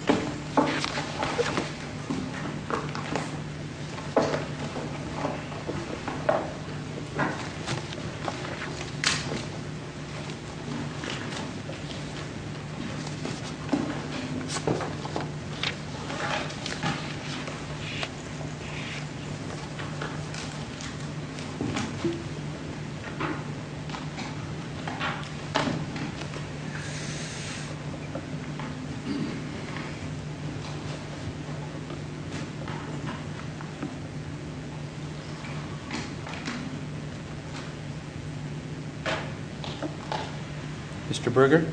COOPER INDUSTRIES MR. BURGER.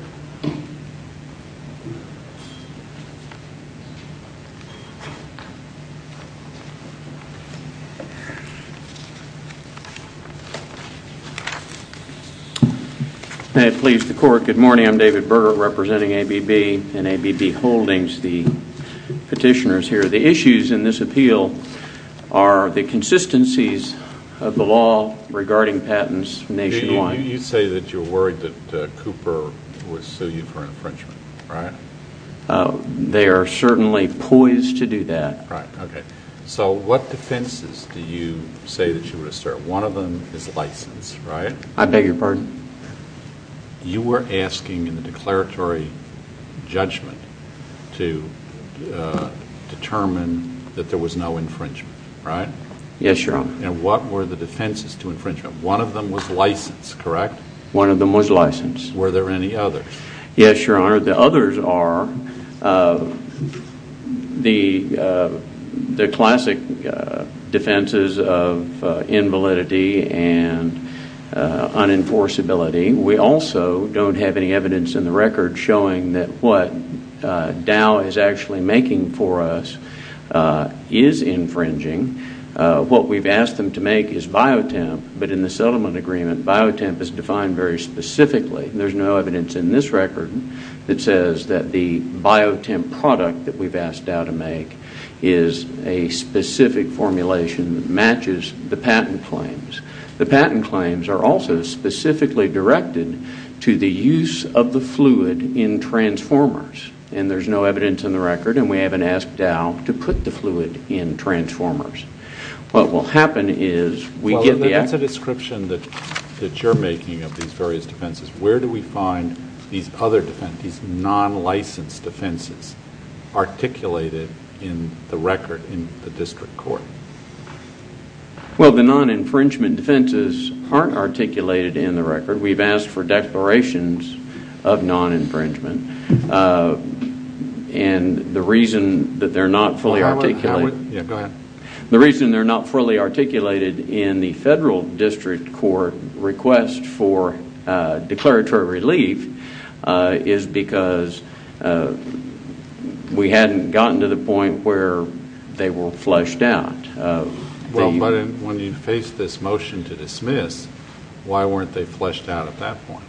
May it please the court, good morning, I'm David Burger representing ABB and ABB Holdings the petitioners here. The issues in this appeal are the consistencies of the law regarding THE COURT. You say that you're worried that Cooper would sue you for an infringement, right? MR. BURGER. They are certainly poised to do that. THE COURT. Right, okay. So what defenses do you say that you would assert? One of them is license, right? MR. BURGER. I beg your pardon? THE COURT. You were asking in the declaratory judgment to determine that there was no infringement, right? MR. BURGER. Yes, Your Honor. THE COURT. And what were the defenses to infringement? One of them was license, correct? MR. BURGER. One of them was license. THE COURT. Were there any others? MR. BURGER. Yes, Your Honor. The others are the classic defenses of invalidity and unenforceability. We also don't have any evidence in the record showing that what Dow is actually making for us is infringing. What we've asked them to make is biotemp, but in the settlement agreement biotemp is defined very specifically. There's no evidence in this record that says that the biotemp product that we've asked Dow to make is a specific formulation that matches the patent claims. The patent claims are also specifically directed to the use of the fluid in transformers, and there's no evidence in the record, and we haven't asked Dow to put the fluid in transformers. What will happen is we get the- THE COURT. The decision that you're making of these various defenses, where do we find these other defenses, these non-licensed defenses articulated in the record in the district court? MR. BURGER. Well, the non-infringement defenses aren't articulated in the record. We've asked for declarations of non-infringement, and the reason that they're not fully articulated- Yeah, go ahead. MR. BURGER. The reason that we didn't request for declaratory relief is because we hadn't gotten to the point where they were flushed out. THE COURT. Well, but when you faced this motion to dismiss, why weren't they flushed out at that point?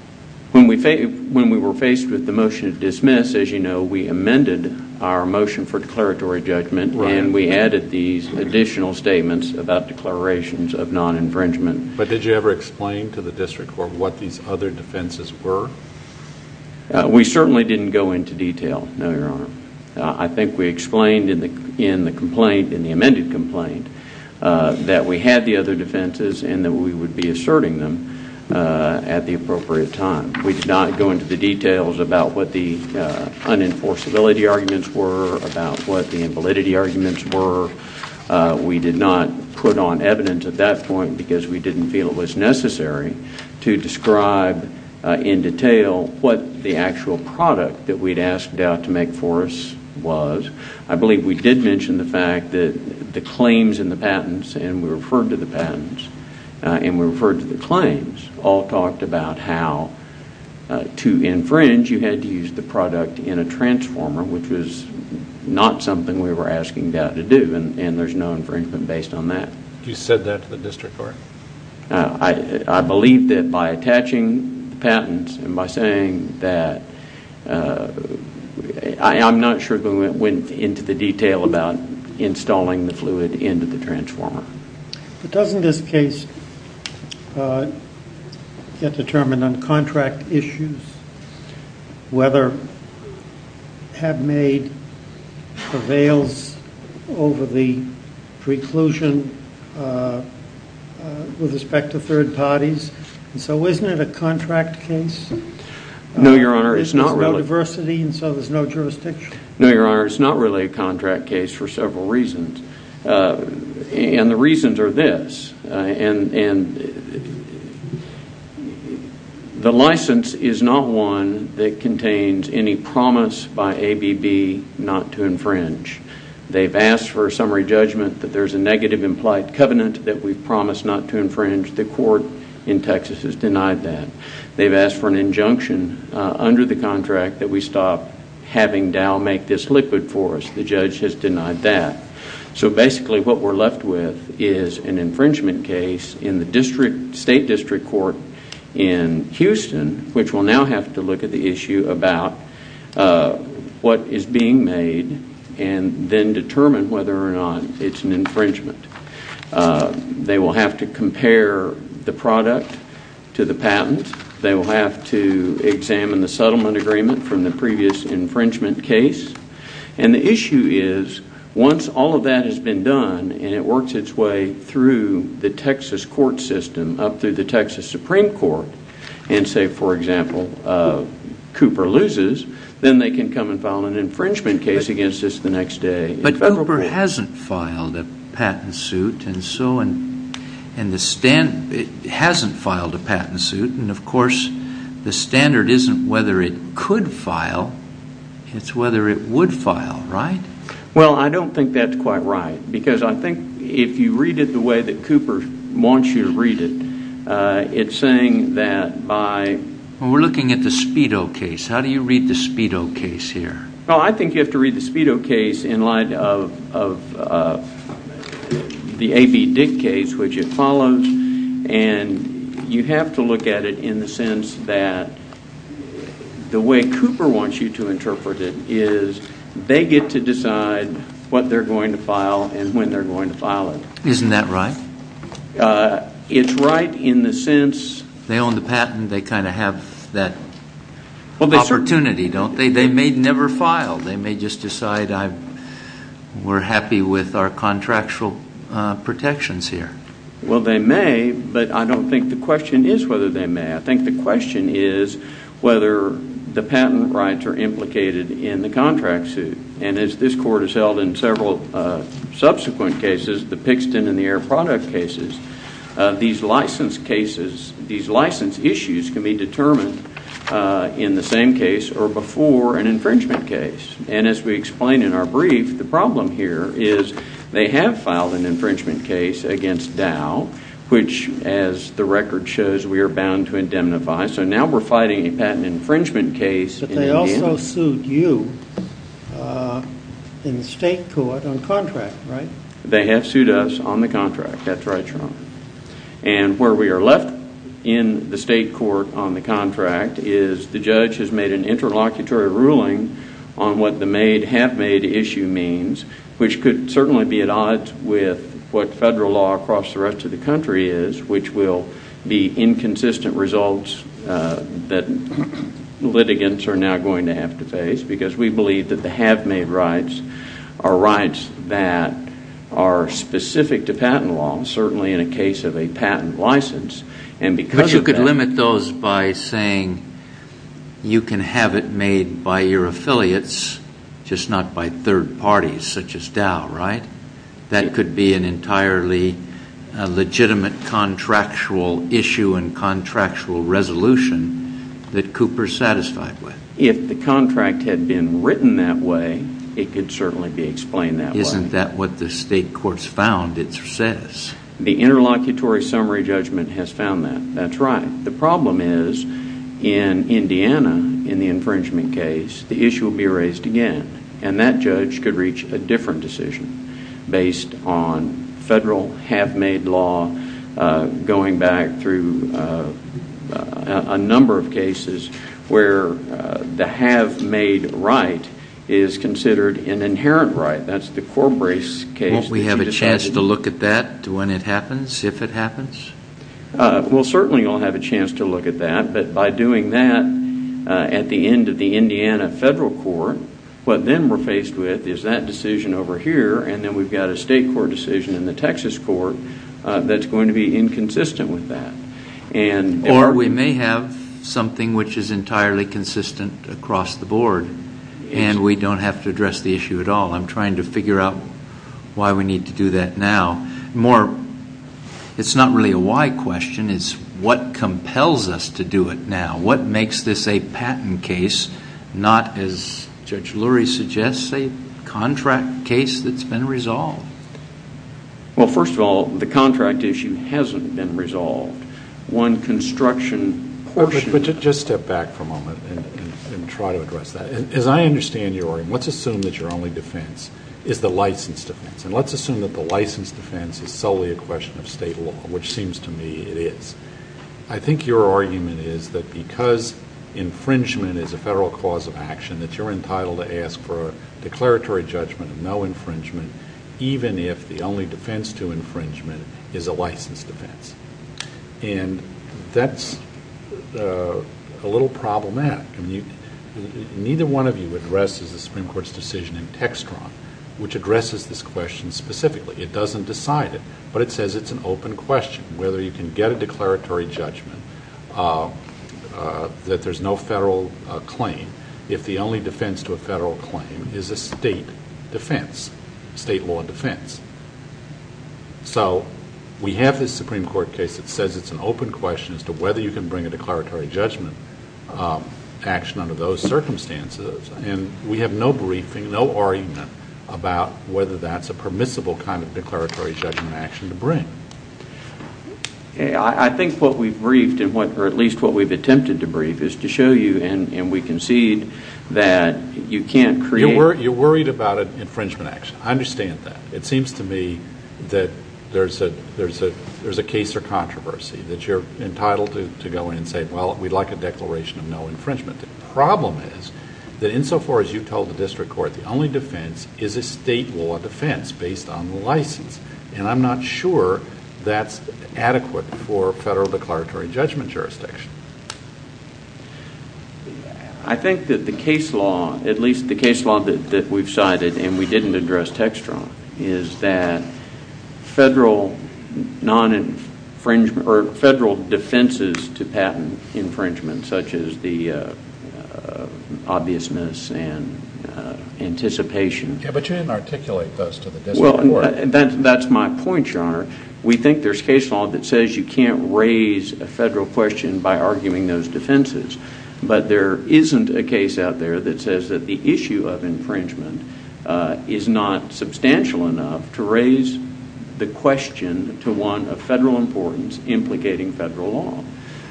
MR. BURGER. When we were faced with the motion to dismiss, as you know, we amended our motion for declaratory judgment, and we added these additional statements about declarations of non-infringement. THE COURT. But did you ever explain to the district court what these other defenses were? MR. BURGER. We certainly didn't go into detail, no, Your Honor. I think we explained in the complaint, in the amended complaint, that we had the other defenses and that we would be asserting them at the appropriate time. We did not go into the details about what the unenforceability arguments were, about what the invalidity arguments were. We did not put on evidence at that point, because we didn't feel it was necessary, to describe in detail what the actual product that we'd asked Dow to make for us was. I believe we did mention the fact that the claims and the patents, and we referred to the patents, and we referred to the claims, all talked about how to infringe, you had to use the product in a transformer, which was not something we were asking Dow to do, and there's no infringement based on that. THE COURT. You said that to the district court? MR. BURGER. I believe that by attaching the patents and by saying that, I'm not sure that we went into the detail about installing the fluid into the transformer. THE COURT. But doesn't this case get determined on contract issues, whether have made prevails over the preclusion with respect to third parties? So isn't it a contract case? MR. BURGER. No, Your Honor, it's not really. THE COURT. There's no diversity, and so there's no jurisdiction? MR. BURGER. No, Your Honor, it's not really a contract case for several reasons, and the reasons are this. The license is not one that contains any promise by ABB not to infringe. They've asked for a summary judgment that there's a negative implied covenant that we've promised not to infringe. The court in Texas has denied that. They've asked for an injunction under the contract that we stop having Dow make this liquid for us. The judge has denied that. So basically what we're left with is an infringement case in the district, state district court in Houston, which will now have to look at the issue about what is being made and then determine whether or not it's an infringement. They will have to compare the product to the patent. They will have to examine the settlement agreement from the previous infringement case. And the issue is once all of that has been done and it works its way through the Texas court system, up through the Texas Supreme Court, and say, for example, Cooper loses, then they can come and file an infringement case against us the next day. But Cooper hasn't filed a patent suit and so on. And the standard hasn't filed a patent suit. And of course, the standard isn't whether it could file. It's whether it would file, right? Well, I don't think that's quite right. Because I think if you read it the way that Cooper wants you to read it, it's saying that by Well, we're looking at the Speedo case. How do you read the Speedo case here? Well, I think you have to read the Speedo case in light of the A.B. Dick case, which it follows. And you have to look at it in the sense that the way Cooper wants you to interpret it is they get to decide what they're going to file and when they're going to file it. Isn't that right? It's right in the sense They own the patent. They kind of have that opportunity, don't they? They may never file. They may just decide we're happy with our contractual protections here. Well, they may, but I don't think the question is whether they may. I think the question is whether the patent rights are implicated in the contract suit. And as this court has held in several subsequent cases, the Pixton and the Air Product cases, these license cases, these license issues can be determined in the same case or before an infringement case. And as we explain in our brief, the problem here is they have filed an infringement case against Dow, which as the record shows, we are bound to indemnify. So now we're fighting a patent infringement case. But they also sued you in the state court on contract, right? They have sued us on the contract. That's right, Sean. And where we are left in the state court on the contract is the judge has made an interlocutory ruling on what the made-have-made issue means, which could certainly be at odds with what federal law across the rest of the country is, which will be inconsistent results that litigants are now going to have to face because we believe that the have-made rights are rights that are specific to patent law, certainly in a case of a patent license. But you could limit those by saying you can have it made by your affiliates, just not by third parties such as Dow, right? That could be an entirely legitimate contractual issue and contractual resolution that Cooper is satisfied with. If the contract had been written that way, it could certainly be explained that way. Isn't that what the state court's found, it says? The interlocutory summary judgment has found that. That's right. The problem is in Indiana, in the infringement case, the issue will be raised again. And that judge could reach a different decision based on federal have-made law going back through a number of cases where the have-made right is considered an inherent right. That's the Corbrace case. Won't we have a chance to look at that when it happens, if it happens? We'll certainly all have a chance to look at that, but by doing that at the end of the Indiana federal court, what then we're faced with is that decision over here and then we've got a state court decision in the Texas court that's going to be inconsistent with that. Or we may have something which is entirely consistent across the board, and we don't have to address the issue at all. I'm trying to figure out why we need to do that now. It's not really a why question, it's what compels us to do it now? What makes this a patent case, not, as Judge Lurie suggests, a contract case that's been resolved? Well, first of all, the contract issue hasn't been resolved. One construction portion... Just step back for a moment and try to address that. As I understand your argument, let's assume that your only defense is the license defense, and let's assume that the license defense is solely a question of state law, which seems to me it is. I think your argument is that because infringement is a federal cause of action, that you're entitled to ask for a declaratory judgment of no infringement, even if the only defense to infringement is a license defense. That's a little problematic. Neither one of you addresses the Supreme Court's decision in Textron, which addresses this question specifically. It doesn't decide it, but it says it's an open question, whether you can get a declaratory judgment that there's no federal claim, if the only defense to a federal claim is a state defense, state law defense. We have this Supreme Court case that says it's an open question as to whether you can bring a declaratory judgment action under those circumstances. We have no briefing, no argument about whether that's a permissible kind of declaratory judgment action to bring. I think what we've briefed, or at least what we've attempted to brief, is to show you, and we concede that you can't create... You're worried about an infringement action. I understand that. It seems to me that there's a case or controversy, that you're entitled to go in and say, well, we'd like a declaration of no infringement. The problem is that in so far as you've told the district court, the only defense is a state law defense based on license, and I'm not sure that's adequate for federal declaratory judgment jurisdiction. I think that the case law, at least the case law that we've cited, and we didn't address Textron, is that federal non-infringement... or federal defenses to patent infringements such as the obviousness and anticipation... Yeah, but you didn't articulate those to the district court. That's my point, Your Honor. We think there's case law that says you can't raise a federal question by arguing those defenses, but there isn't a case out there that says that the issue of infringement is not substantial enough to raise the question to one of federal importance implicating federal law,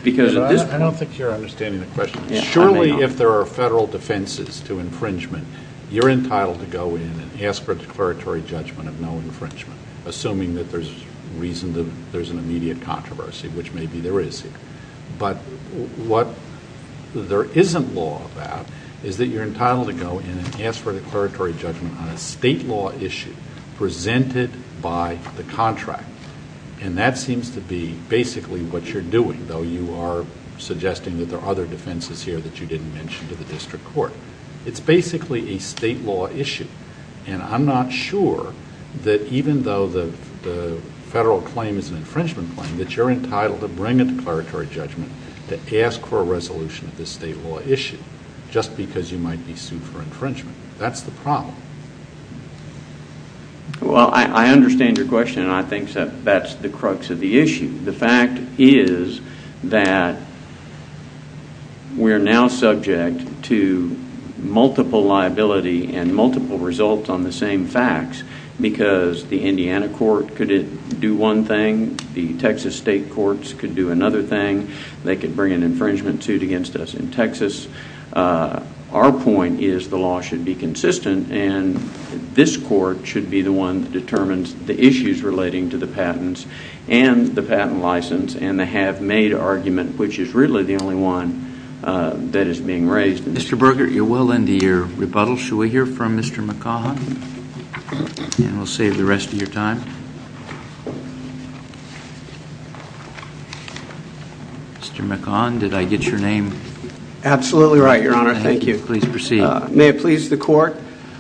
because at this point... I don't think you're understanding the question. Surely if there are federal defenses to infringement, you're entitled to go in and ask for a declaratory judgment of no infringement, assuming that there's reason that there's an immediate controversy, which maybe there is. But what there isn't law about is that you're entitled to go in and ask for a declaratory judgment on a state law issue presented by the contract, and that seems to be basically what you're doing, though you are suggesting that there are other defenses here that you didn't mention to the district court. It's basically a state law issue, and I'm not sure that even though the federal claim is an infringement claim, that you're entitled to bring a declaratory judgment to ask for a resolution of this state law issue just because you might be sued for infringement. That's the problem. Well, I understand your question, and I think that that's the crux of the issue. The fact is that we're now subject to multiple liability and multiple results on the same facts, because the Indiana court could do one thing, the Texas state courts could do another thing. They could bring an infringement suit against us in Texas. Our point is the law should be consistent, and this court should be the one that determines the issues relating to the have-made argument, which is really the only one that is being raised. Mr. Berger, you're well into your rebuttal. Should we hear from Mr. McCaughan? We'll save the rest of your time. Mr. McCaughan, did I get your name? Absolutely right, Your Honor. Thank you. Please proceed. May it please the court,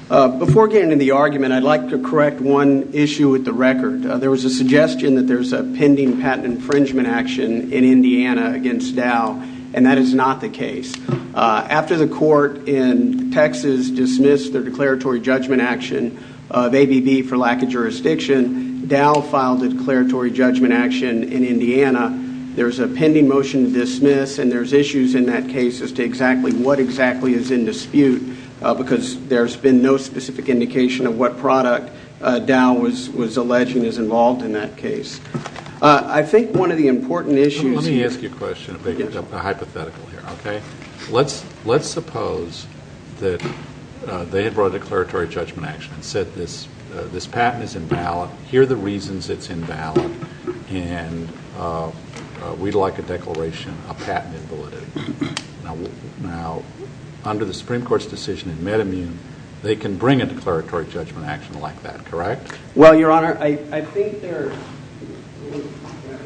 before getting into the argument, I'd like to correct one issue with the record. There was a suggestion that there's a pending patent infringement action in Indiana against Dow, and that is not the case. After the court in Texas dismissed their declaratory judgment action of ABB for lack of jurisdiction, Dow filed a declaratory judgment action in Indiana. There's a pending motion to dismiss, and there's issues in that case as to exactly what exactly is in dispute, because there's been no specific indication of what product Dow was alleging is involved in that case. I think one of the important issues- Let me ask you a question, a hypothetical here, okay? Let's suppose that they had brought a declaratory judgment action and said this patent is invalid. Here are the reasons it's invalid, and we'd like a declaration of patent invalidity. Now, under the Supreme Court's decision in MedImmune, they can bring a declaratory judgment action like that, correct? Well, Your Honor, I think there's-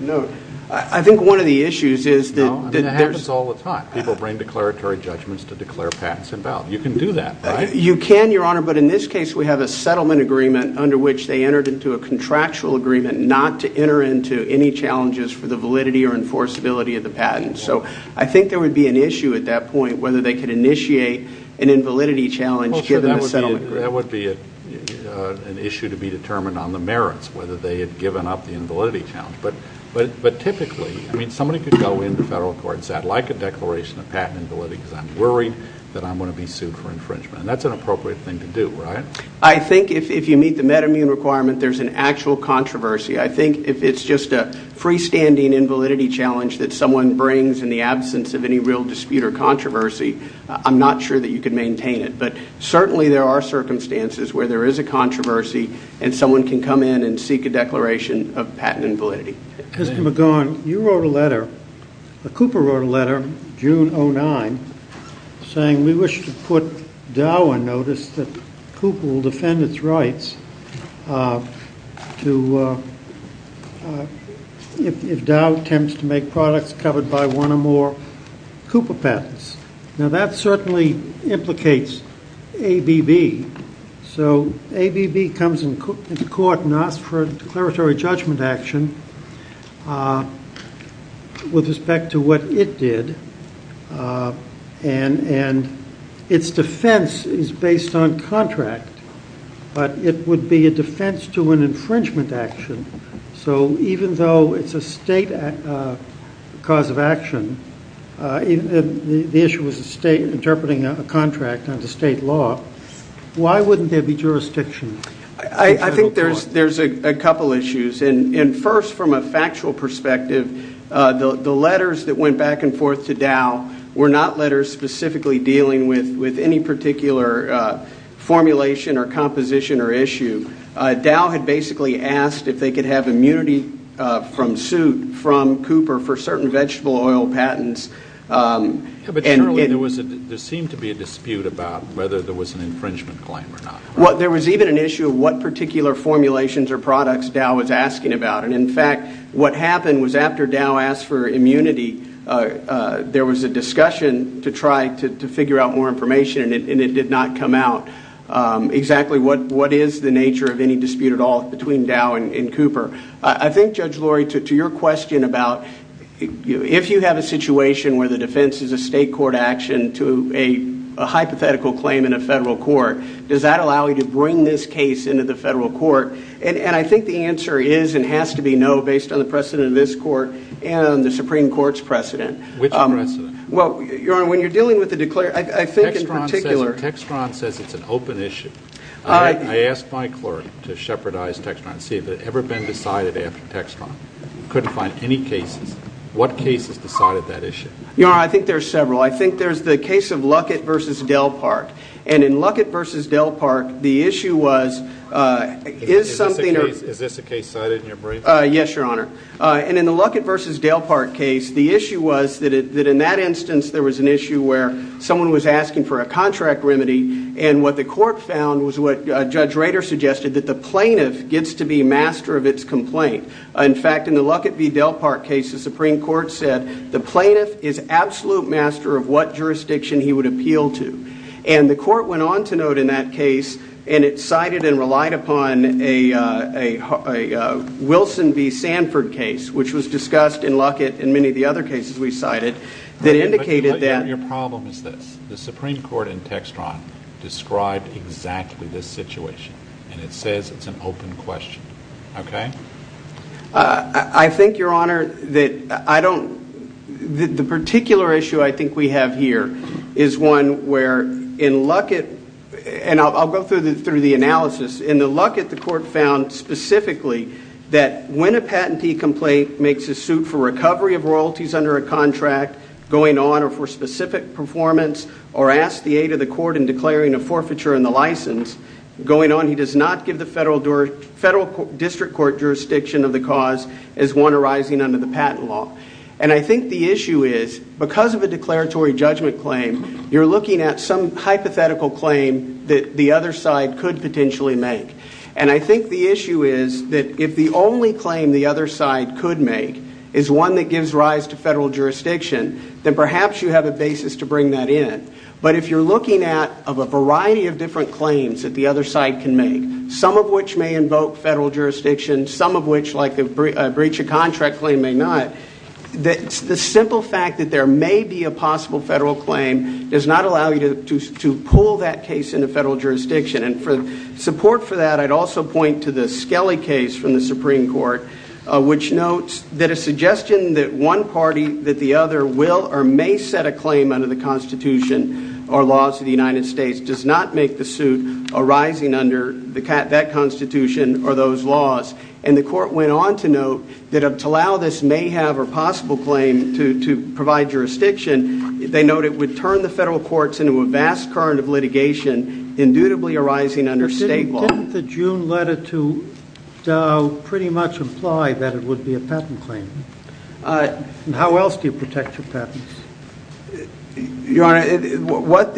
No. I think one of the issues is that- No. I mean, that happens all the time. People bring declaratory judgments to declare patents invalid. You can do that, right? You can, Your Honor, but in this case, we have a settlement agreement under which they entered into a contractual agreement not to enter into any challenges for the validity or enforceability of the patent. So I think there would be an issue at that point whether they could initiate an invalidity challenge given the settlement agreement. That would be an issue to be determined on the merits, whether they had given up the invalidity challenge. But typically, I mean, somebody could go into federal court and say, I'd like a declaration of patent invalidity because I'm worried that I'm going to be sued for infringement. And that's an appropriate thing to do, right? I think if you meet the MedImmune requirement, there's an actual controversy. I think if it's just a freestanding invalidity challenge that someone brings in the absence of any real dispute or controversy, I'm not sure that you can maintain it. But certainly there are circumstances where there is a controversy and someone can come in and seek a declaration of patent invalidity. Mr. McGaughan, you wrote a letter, Cooper wrote a letter June 09 saying we wish to put Dow a notice that Cooper will defend its rights to, if Dow attempts to make products covered by one or more Cooper patents. Now that certainly implicates ABB. So ABB comes into court and asks for a declaratory judgment action with respect to what it did. And its defense is based on contract, but it would be a defense to an infringement action. So even though it's a state cause of action, the issue was the state interpreting a contract under state law, why wouldn't there be jurisdiction? I think there's a couple issues. And first, from a factual perspective, the letters that went back and forth to Dow were not letters specifically dealing with any particular formulation or composition or issue. Dow had basically asked if they could have immunity from suit from Cooper for certain vegetable oil patents. But surely there seemed to be a dispute about whether there was an infringement claim or not. There was even an issue of what particular formulations or products Dow was asking about. And in fact, what happened was after Dow asked for immunity, there was a discussion to try to figure out more information and it did not come out exactly what is the nature of any dispute at all between Dow and Cooper. I think, Judge Lurie, to your question about if you have a situation where the defense is a state court action to a hypothetical claim in a federal court, does that allow you to bring this case into the federal court? And I think the answer is and has to be no based on the precedent of this court and the Supreme Court's precedent. Which precedent? Well, Your Honor, when you're dealing with the declarer, I think in particular... Textron says it's an open issue. I asked my clerk to shepherdize Textron to see if it had ever been decided after Textron. Couldn't find any cases. What cases decided that issue? Your Honor, I think there are several. I think there's the case of Luckett v. Dale Park. And in Luckett v. Dale Park, the issue was, is something... Is this a case cited in your brief? Yes, Your Honor. And in the Luckett v. Dale Park case, the issue was that in that instance, there was an issue where someone was asking for a contract remedy. And what the court found was what Judge Rader suggested, that the plaintiff gets to be master of its complaint. In fact, in the Luckett v. Dale Park case, the Supreme Court said the plaintiff is absolute master of what jurisdiction he would appeal to. And the court went on to note in that case, and it cited and relied upon a Wilson v. Sanford case, which was discussed in Luckett and many of the other cases we cited, that indicated that... Your problem is this. The Supreme Court in Textron described exactly this situation, and it says it's an open question. Okay? I think, Your Honor, that I don't... The particular issue I think we have here is one where in Luckett... And I'll go through the analysis. In the Luckett, the court found specifically that when a patentee complaint makes a suit for recovery of royalties under a contract going on, or for specific performance, or asks the aid of the court in declaring a forfeiture in the license going on, he does not give the federal district court jurisdiction of the cause as one arising under the patent law. And I think the issue is, because of a declaratory judgment claim, you're looking at some hypothetical claim that the other side could potentially make. And I think the issue is that if the only claim the other side could make is one that gives rise to federal jurisdiction, then perhaps you have a basis to bring that in. But if you're looking at a variety of different claims that the other side can make, some of which may invoke federal jurisdiction, some of which, like a breach of contract claim, may not, the simple fact that there may be a possible federal claim does not allow you to pull that case into federal jurisdiction. And for support for that, I'd also point to the Skelly case from the Supreme Court, which notes that a suggestion that one party, that the other will or may set a claim under the Constitution or laws of the United States does not make the suit arising under that Constitution or those laws. And the court went on to note that to allow this may have a possible claim to provide jurisdiction, they note it would turn the federal courts into a vast current of litigation, indubitably arising under state law. Didn't the June letter to Dow pretty much imply that it would be a patent claim? And how else do you protect your patents? Your Honor, what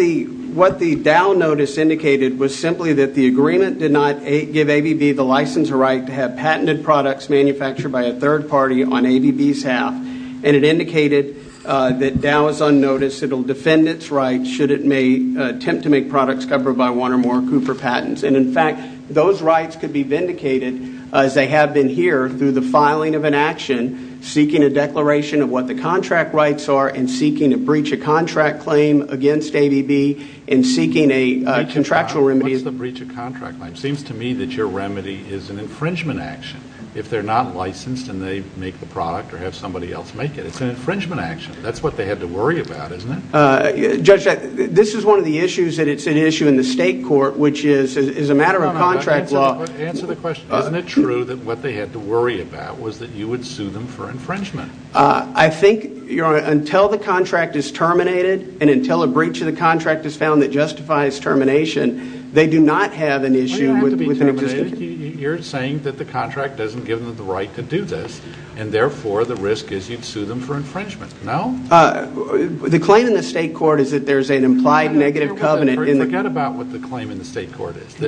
the Dow notice indicated was simply that the agreement did not give ABB the license or right to have patented products manufactured by a third party on its own. It indicated that Dow is unnoticed. It will defend its rights should it may attempt to make products covered by one or more Cooper patents. And in fact, those rights could be vindicated as they have been here through the filing of an action, seeking a declaration of what the contract rights are and seeking a breach of contract claim against ABB and seeking a contractual remedy. What's the breach of contract claim? Seems to me that your remedy is an infringement action. If they're not licensed and they make the product or have somebody else make it, it's an infringement action. That's what they had to worry about, isn't it? Judge, this is one of the issues that it's an issue in the state court, which is a matter of contract law. Answer the question. Isn't it true that what they had to worry about was that you would sue them for infringement? I think, Your Honor, until the contract is terminated and until a breach of the contract is found that justifies termination, they do not have an issue with an objection. You're saying that the contract doesn't give them the right to do this and therefore the state court has to sue them for infringement. No? The claim in the state court is that there's an implied negative covenant in the... Forget about what the claim in the state court is.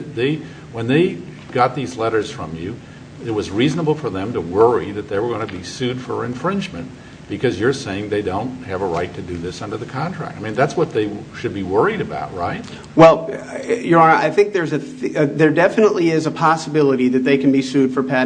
When they got these letters from you, it was reasonable for them to worry that they were going to be sued for infringement because you're saying they don't have a right to do this under the contract. I mean, that's what they should be worried about, right? Well, Your Honor, I think there definitely is a possibility that they can be sued for breach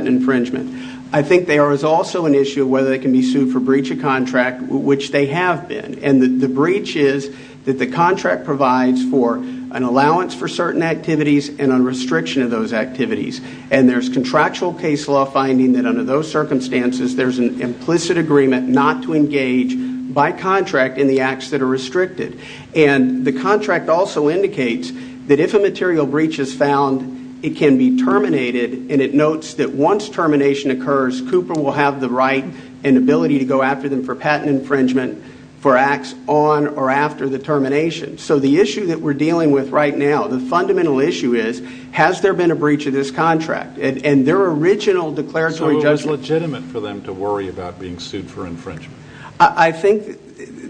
of contract, which they have been. The breach is that the contract provides for an allowance for certain activities and a restriction of those activities. There's contractual case law finding that under those circumstances, there's an implicit agreement not to engage by contract in the acts that are restricted. The contract also indicates that if a material breach is found, it can be terminated and it notes that once termination occurs, Cooper will have the right and ability to go after them for patent infringement for acts on or after the termination. So the issue that we're dealing with right now, the fundamental issue is, has there been a breach of this contract? And their original declaratory judgment... So it was legitimate for them to worry about being sued for infringement? I think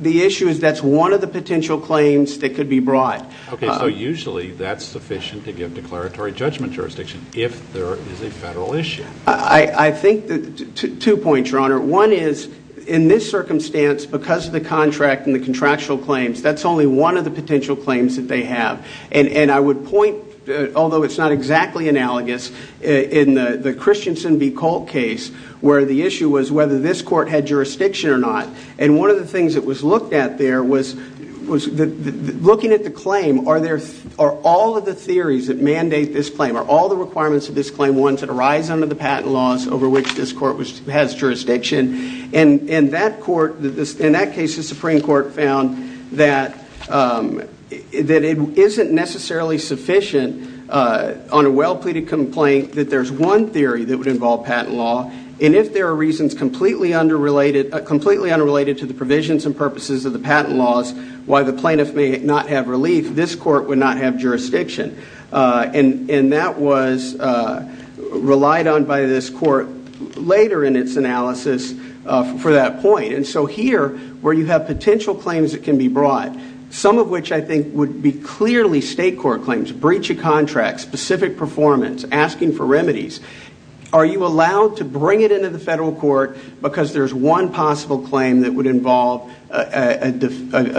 the issue is that's one of the potential claims that could be brought. Okay, so usually that's sufficient to give declaratory judgment jurisdiction if there is a federal issue. I think... Two points, Your Honor. One is, in this circumstance, because of the contract and the contractual claims, that's only one of the potential claims that they have. And I would point, although it's not exactly analogous, in the Christensen v. Colt case, where the issue was whether this court had jurisdiction or not. And one of the things that was looked at there was looking at the claim, are all of the theories that mandate this claim, are there patent laws over which this court has jurisdiction? And in that case, the Supreme Court found that it isn't necessarily sufficient on a well-pleaded complaint that there's one theory that would involve patent law. And if there are reasons completely unrelated to the provisions and purposes of the patent laws, why the plaintiff may not have relief, this court would not have jurisdiction. And that was relied on by this court later in its analysis for that point. And so here, where you have potential claims that can be brought, some of which I think would be clearly state court claims, breach of contract, specific performance, asking for remedies, are you allowed to bring it into the federal court because there's one possible claim that would involve a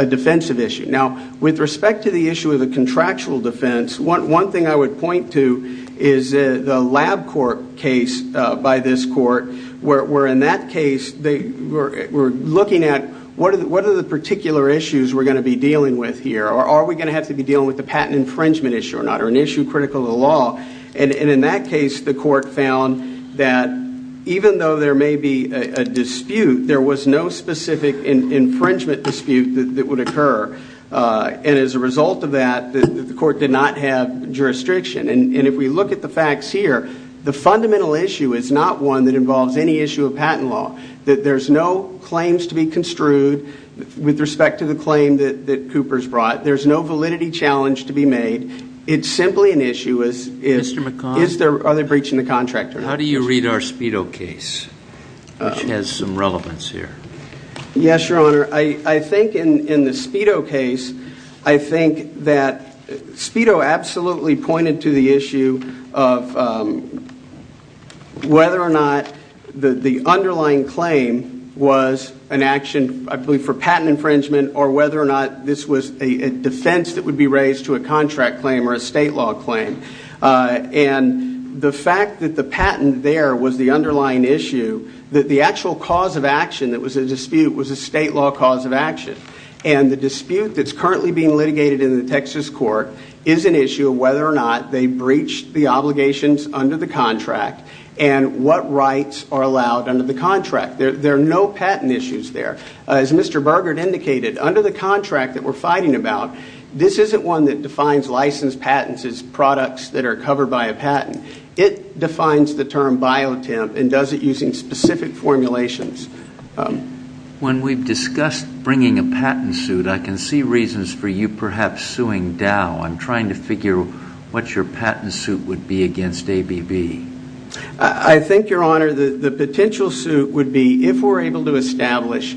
defensive issue? Now, with respect to the issue of the contractual defense, one thing I would point to is the lab court case by this court, where in that case, they were looking at what are the particular issues we're going to be dealing with here? Are we going to have to be dealing with the patent infringement issue or not, or an issue critical to law? And in that case, the court found that even though there may be a dispute, there was no specific infringement dispute that would occur. And as a result of that, the court did not have jurisdiction. And if we look at the facts here, the fundamental issue is not one that involves any issue of patent law, that there's no claims to be construed with respect to the claim that Cooper's brought. There's no validity challenge to be made. It's simply an issue of are they breaching the contract or not. How do you read our Speedo case, which has some relevance here? Yes, Your Honor. I think in the Speedo case, I think that Speedo absolutely pointed to the issue of whether or not the underlying claim was an action, I believe, for patent infringement or whether or not this was a defense that would be raised to a contract claim or a state law claim. And the fact that the patent there was the underlying issue, that the actual cause of action that was a dispute was a state law cause of action. And the dispute that's currently being litigated in the Texas court is an issue of whether or not they breached the obligations under the contract and what rights are allowed under the contract. There are no patent issues there. As Mr. Burgard indicated, under the contract that we're fighting about, this isn't one that defines licensed patents as products that are covered by a patent. It defines the term biotemp and does it using specific formulations. When we've discussed bringing a patent suit, I can see reasons for you perhaps suing Dow. I'm trying to figure what your patent suit would be against ABB. I think, Your Honor, the potential suit would be if we're able to establish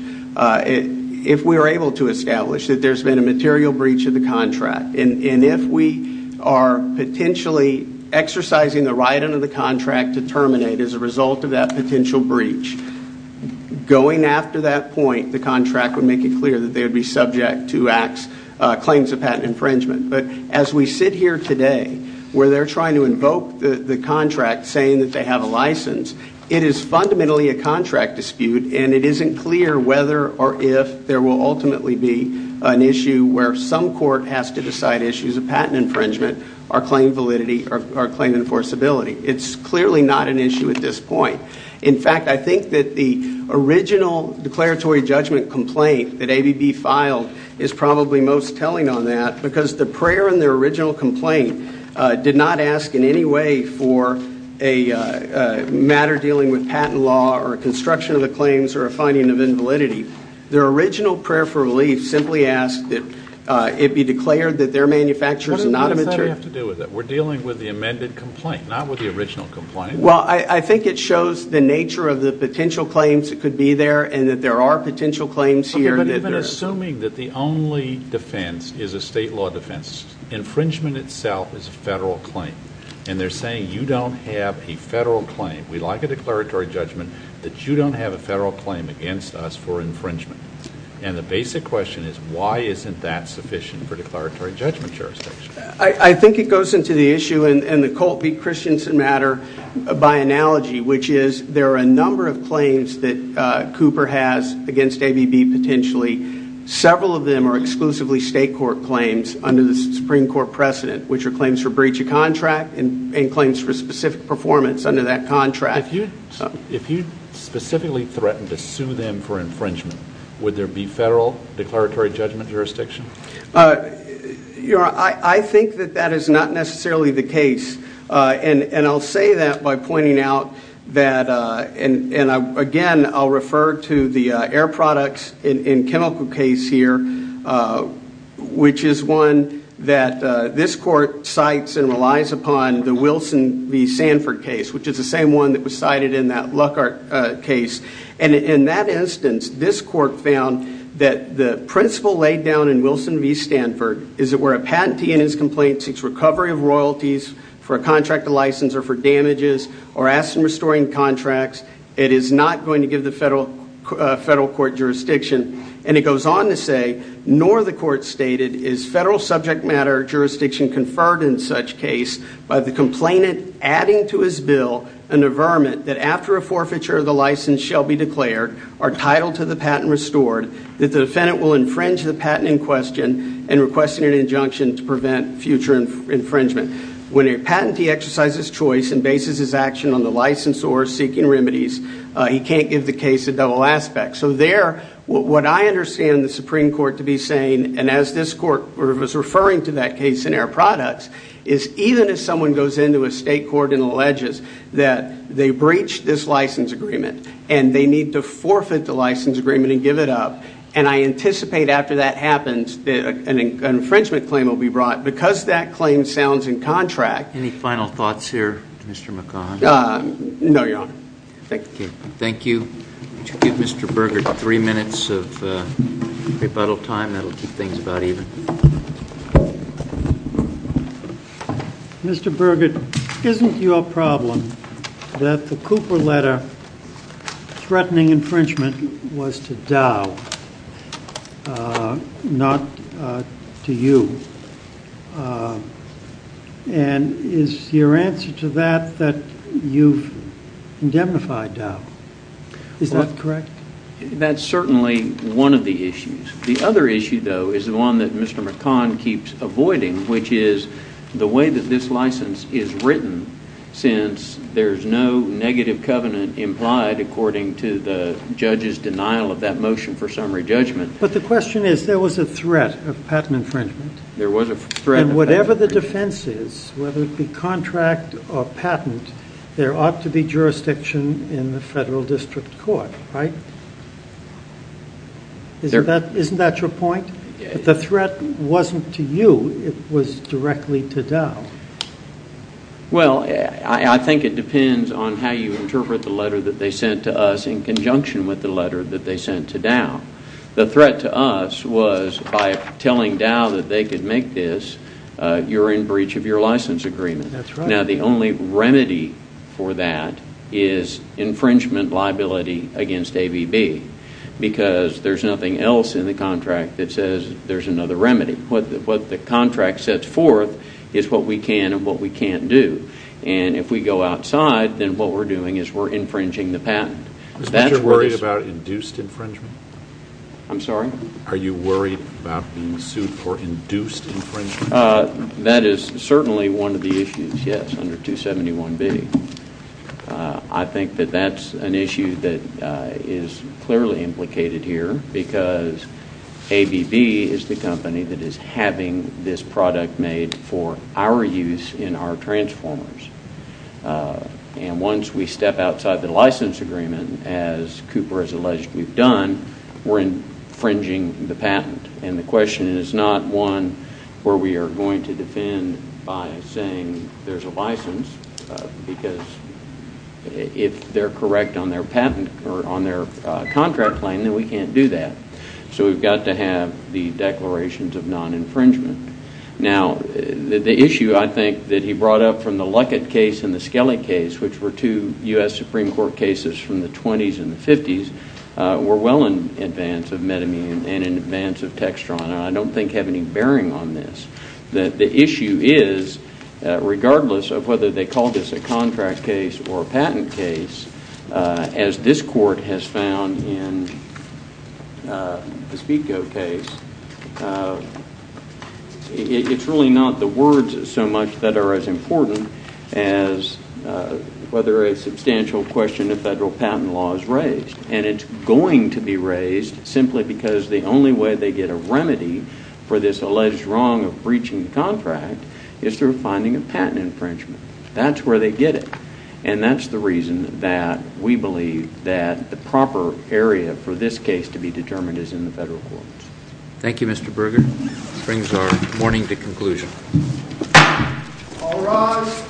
that there's been a material breach of the contract. And if we are potentially exercising the right under the contract to terminate as a result of that potential breach, going after that point the contract would make it clear that they would be subject to claims of patent infringement. But as we sit here today where they're trying to invoke the contract saying that they have a license, it is fundamentally a contract dispute and it isn't clear whether or if there will ultimately be an issue where some court has to decide issues of patent infringement or claim validity or claim enforceability. It's clearly not an issue at this point. In fact, I think that the original declaratory judgment complaint that ABB filed is probably most telling on that because the prayer in their original complaint did not ask in any way for a matter dealing with patent law or construction of the claims or a finding of the claims. Their original prayer for relief simply asked that it be declared that their manufacturer is not a material... What does that have to do with it? We're dealing with the amended complaint, not with the original complaint. Well, I think it shows the nature of the potential claims that could be there and that there are potential claims here that... But even assuming that the only defense is a state law defense, infringement itself is a federal claim. And they're saying you don't have a federal claim. We like a declaratory judgment that you don't have a federal claim against us for infringement. And the basic question is, why isn't that sufficient for declaratory judgment jurisdiction? I think it goes into the issue and the Colt v. Christensen matter by analogy, which is there are a number of claims that Cooper has against ABB potentially. Several of them are exclusively state court claims under the Supreme Court precedent, which are claims for breach of contract and claims for specific performance under that contract. If you specifically threatened to sue them for infringement, would there be federal declaratory judgment jurisdiction? I think that that is not necessarily the case. And I'll say that by pointing out that... And again, I'll refer to the air products in chemical case here, which is one that this court decided in that Luckart case. And in that instance, this court found that the principle laid down in Wilson v. Stanford is that where a patentee in his complaint seeks recovery of royalties for a contract of license or for damages or asking restoring contracts, it is not going to give the federal court jurisdiction. And it goes on to say, nor the court stated is federal subject matter jurisdiction conferred in such case by the complainant adding to his bill an averment that after a forfeiture of the license shall be declared or titled to the patent restored, that the defendant will infringe the patent in question and requesting an injunction to prevent future infringement. When a patentee exercises choice and bases his action on the license or seeking remedies, he can't give the case a double aspect. So there, what I understand the Supreme Court to be saying, and as this court was referring to that case in air products, is even if someone goes into a state court and alleges that they breached this license agreement and they need to forfeit the license agreement and give it up, and I anticipate after that happens that an infringement claim will be brought, because that claim sounds in contract... Any final thoughts here, Mr. McConnell? No, Your Honor. Thank you. Would you give Mr. Burgett three minutes of rebuttal time? That'll keep things about even. Mr. Burgett, isn't your problem that the Cooper letter threatening infringement was to Dow, not to you? And is your answer to that that you've indemnified Dow? Is that correct? That's certainly one of the issues. The other issue, though, is the one that Mr. McConnell keeps avoiding, which is the way that this license is written, since there's no negative covenant implied according to the judge's denial of that motion for summary judgment. But the question is, there was a threat of patent infringement. There was a threat. And whatever the defense is, whether it be contract or patent, there ought to be jurisdiction in the federal district court, right? Isn't that your point? If the threat wasn't to you, it was directly to Dow. Well, I think it depends on how you interpret the letter that they sent to us in conjunction with the letter that they sent to Dow. The threat to us was, by telling Dow that they could make this, you're in breach of your license agreement. Now, the only remedy for that is infringement liability against ABB, because there's nothing else in the contract that says there's another of what we can and what we can't do. And if we go outside, then what we're doing is we're infringing the patent. Are you worried about induced infringement? I'm sorry? Are you worried about being sued for induced infringement? That is certainly one of the issues, yes, under 271B. I think that that's an issue that is clearly implicated here, because ABB is the company that is having this product made for our use in our transformers. And once we step outside the license agreement, as Cooper has alleged we've done, we're infringing the patent. And the question is not one where we are going to defend by saying there's a license, because if they're correct on their patent or on their contract claim, then we can't do that. So we've to have the declarations of non-infringement. Now, the issue I think that he brought up from the Luckett case and the Skelly case, which were two U.S. Supreme Court cases from the 20s and the 50s, were well in advance of Medimune and in advance of Textron. I don't think have any bearing on this. The issue is, regardless of whether they call this a contract case or a patent case, as this court has found in the Spiegel case, it's really not the words so much that are as important as whether a substantial question of federal patent law is raised. And it's going to be raised simply because the only way they get a remedy for this alleged wrong of breaching the contract is through finding a patent infringement. That's where they get it. And that's the reason that we believe that the proper area for this case to be determined is in the federal courts. Thank you, Mr. Berger. That brings our morning to conclusion. All rise.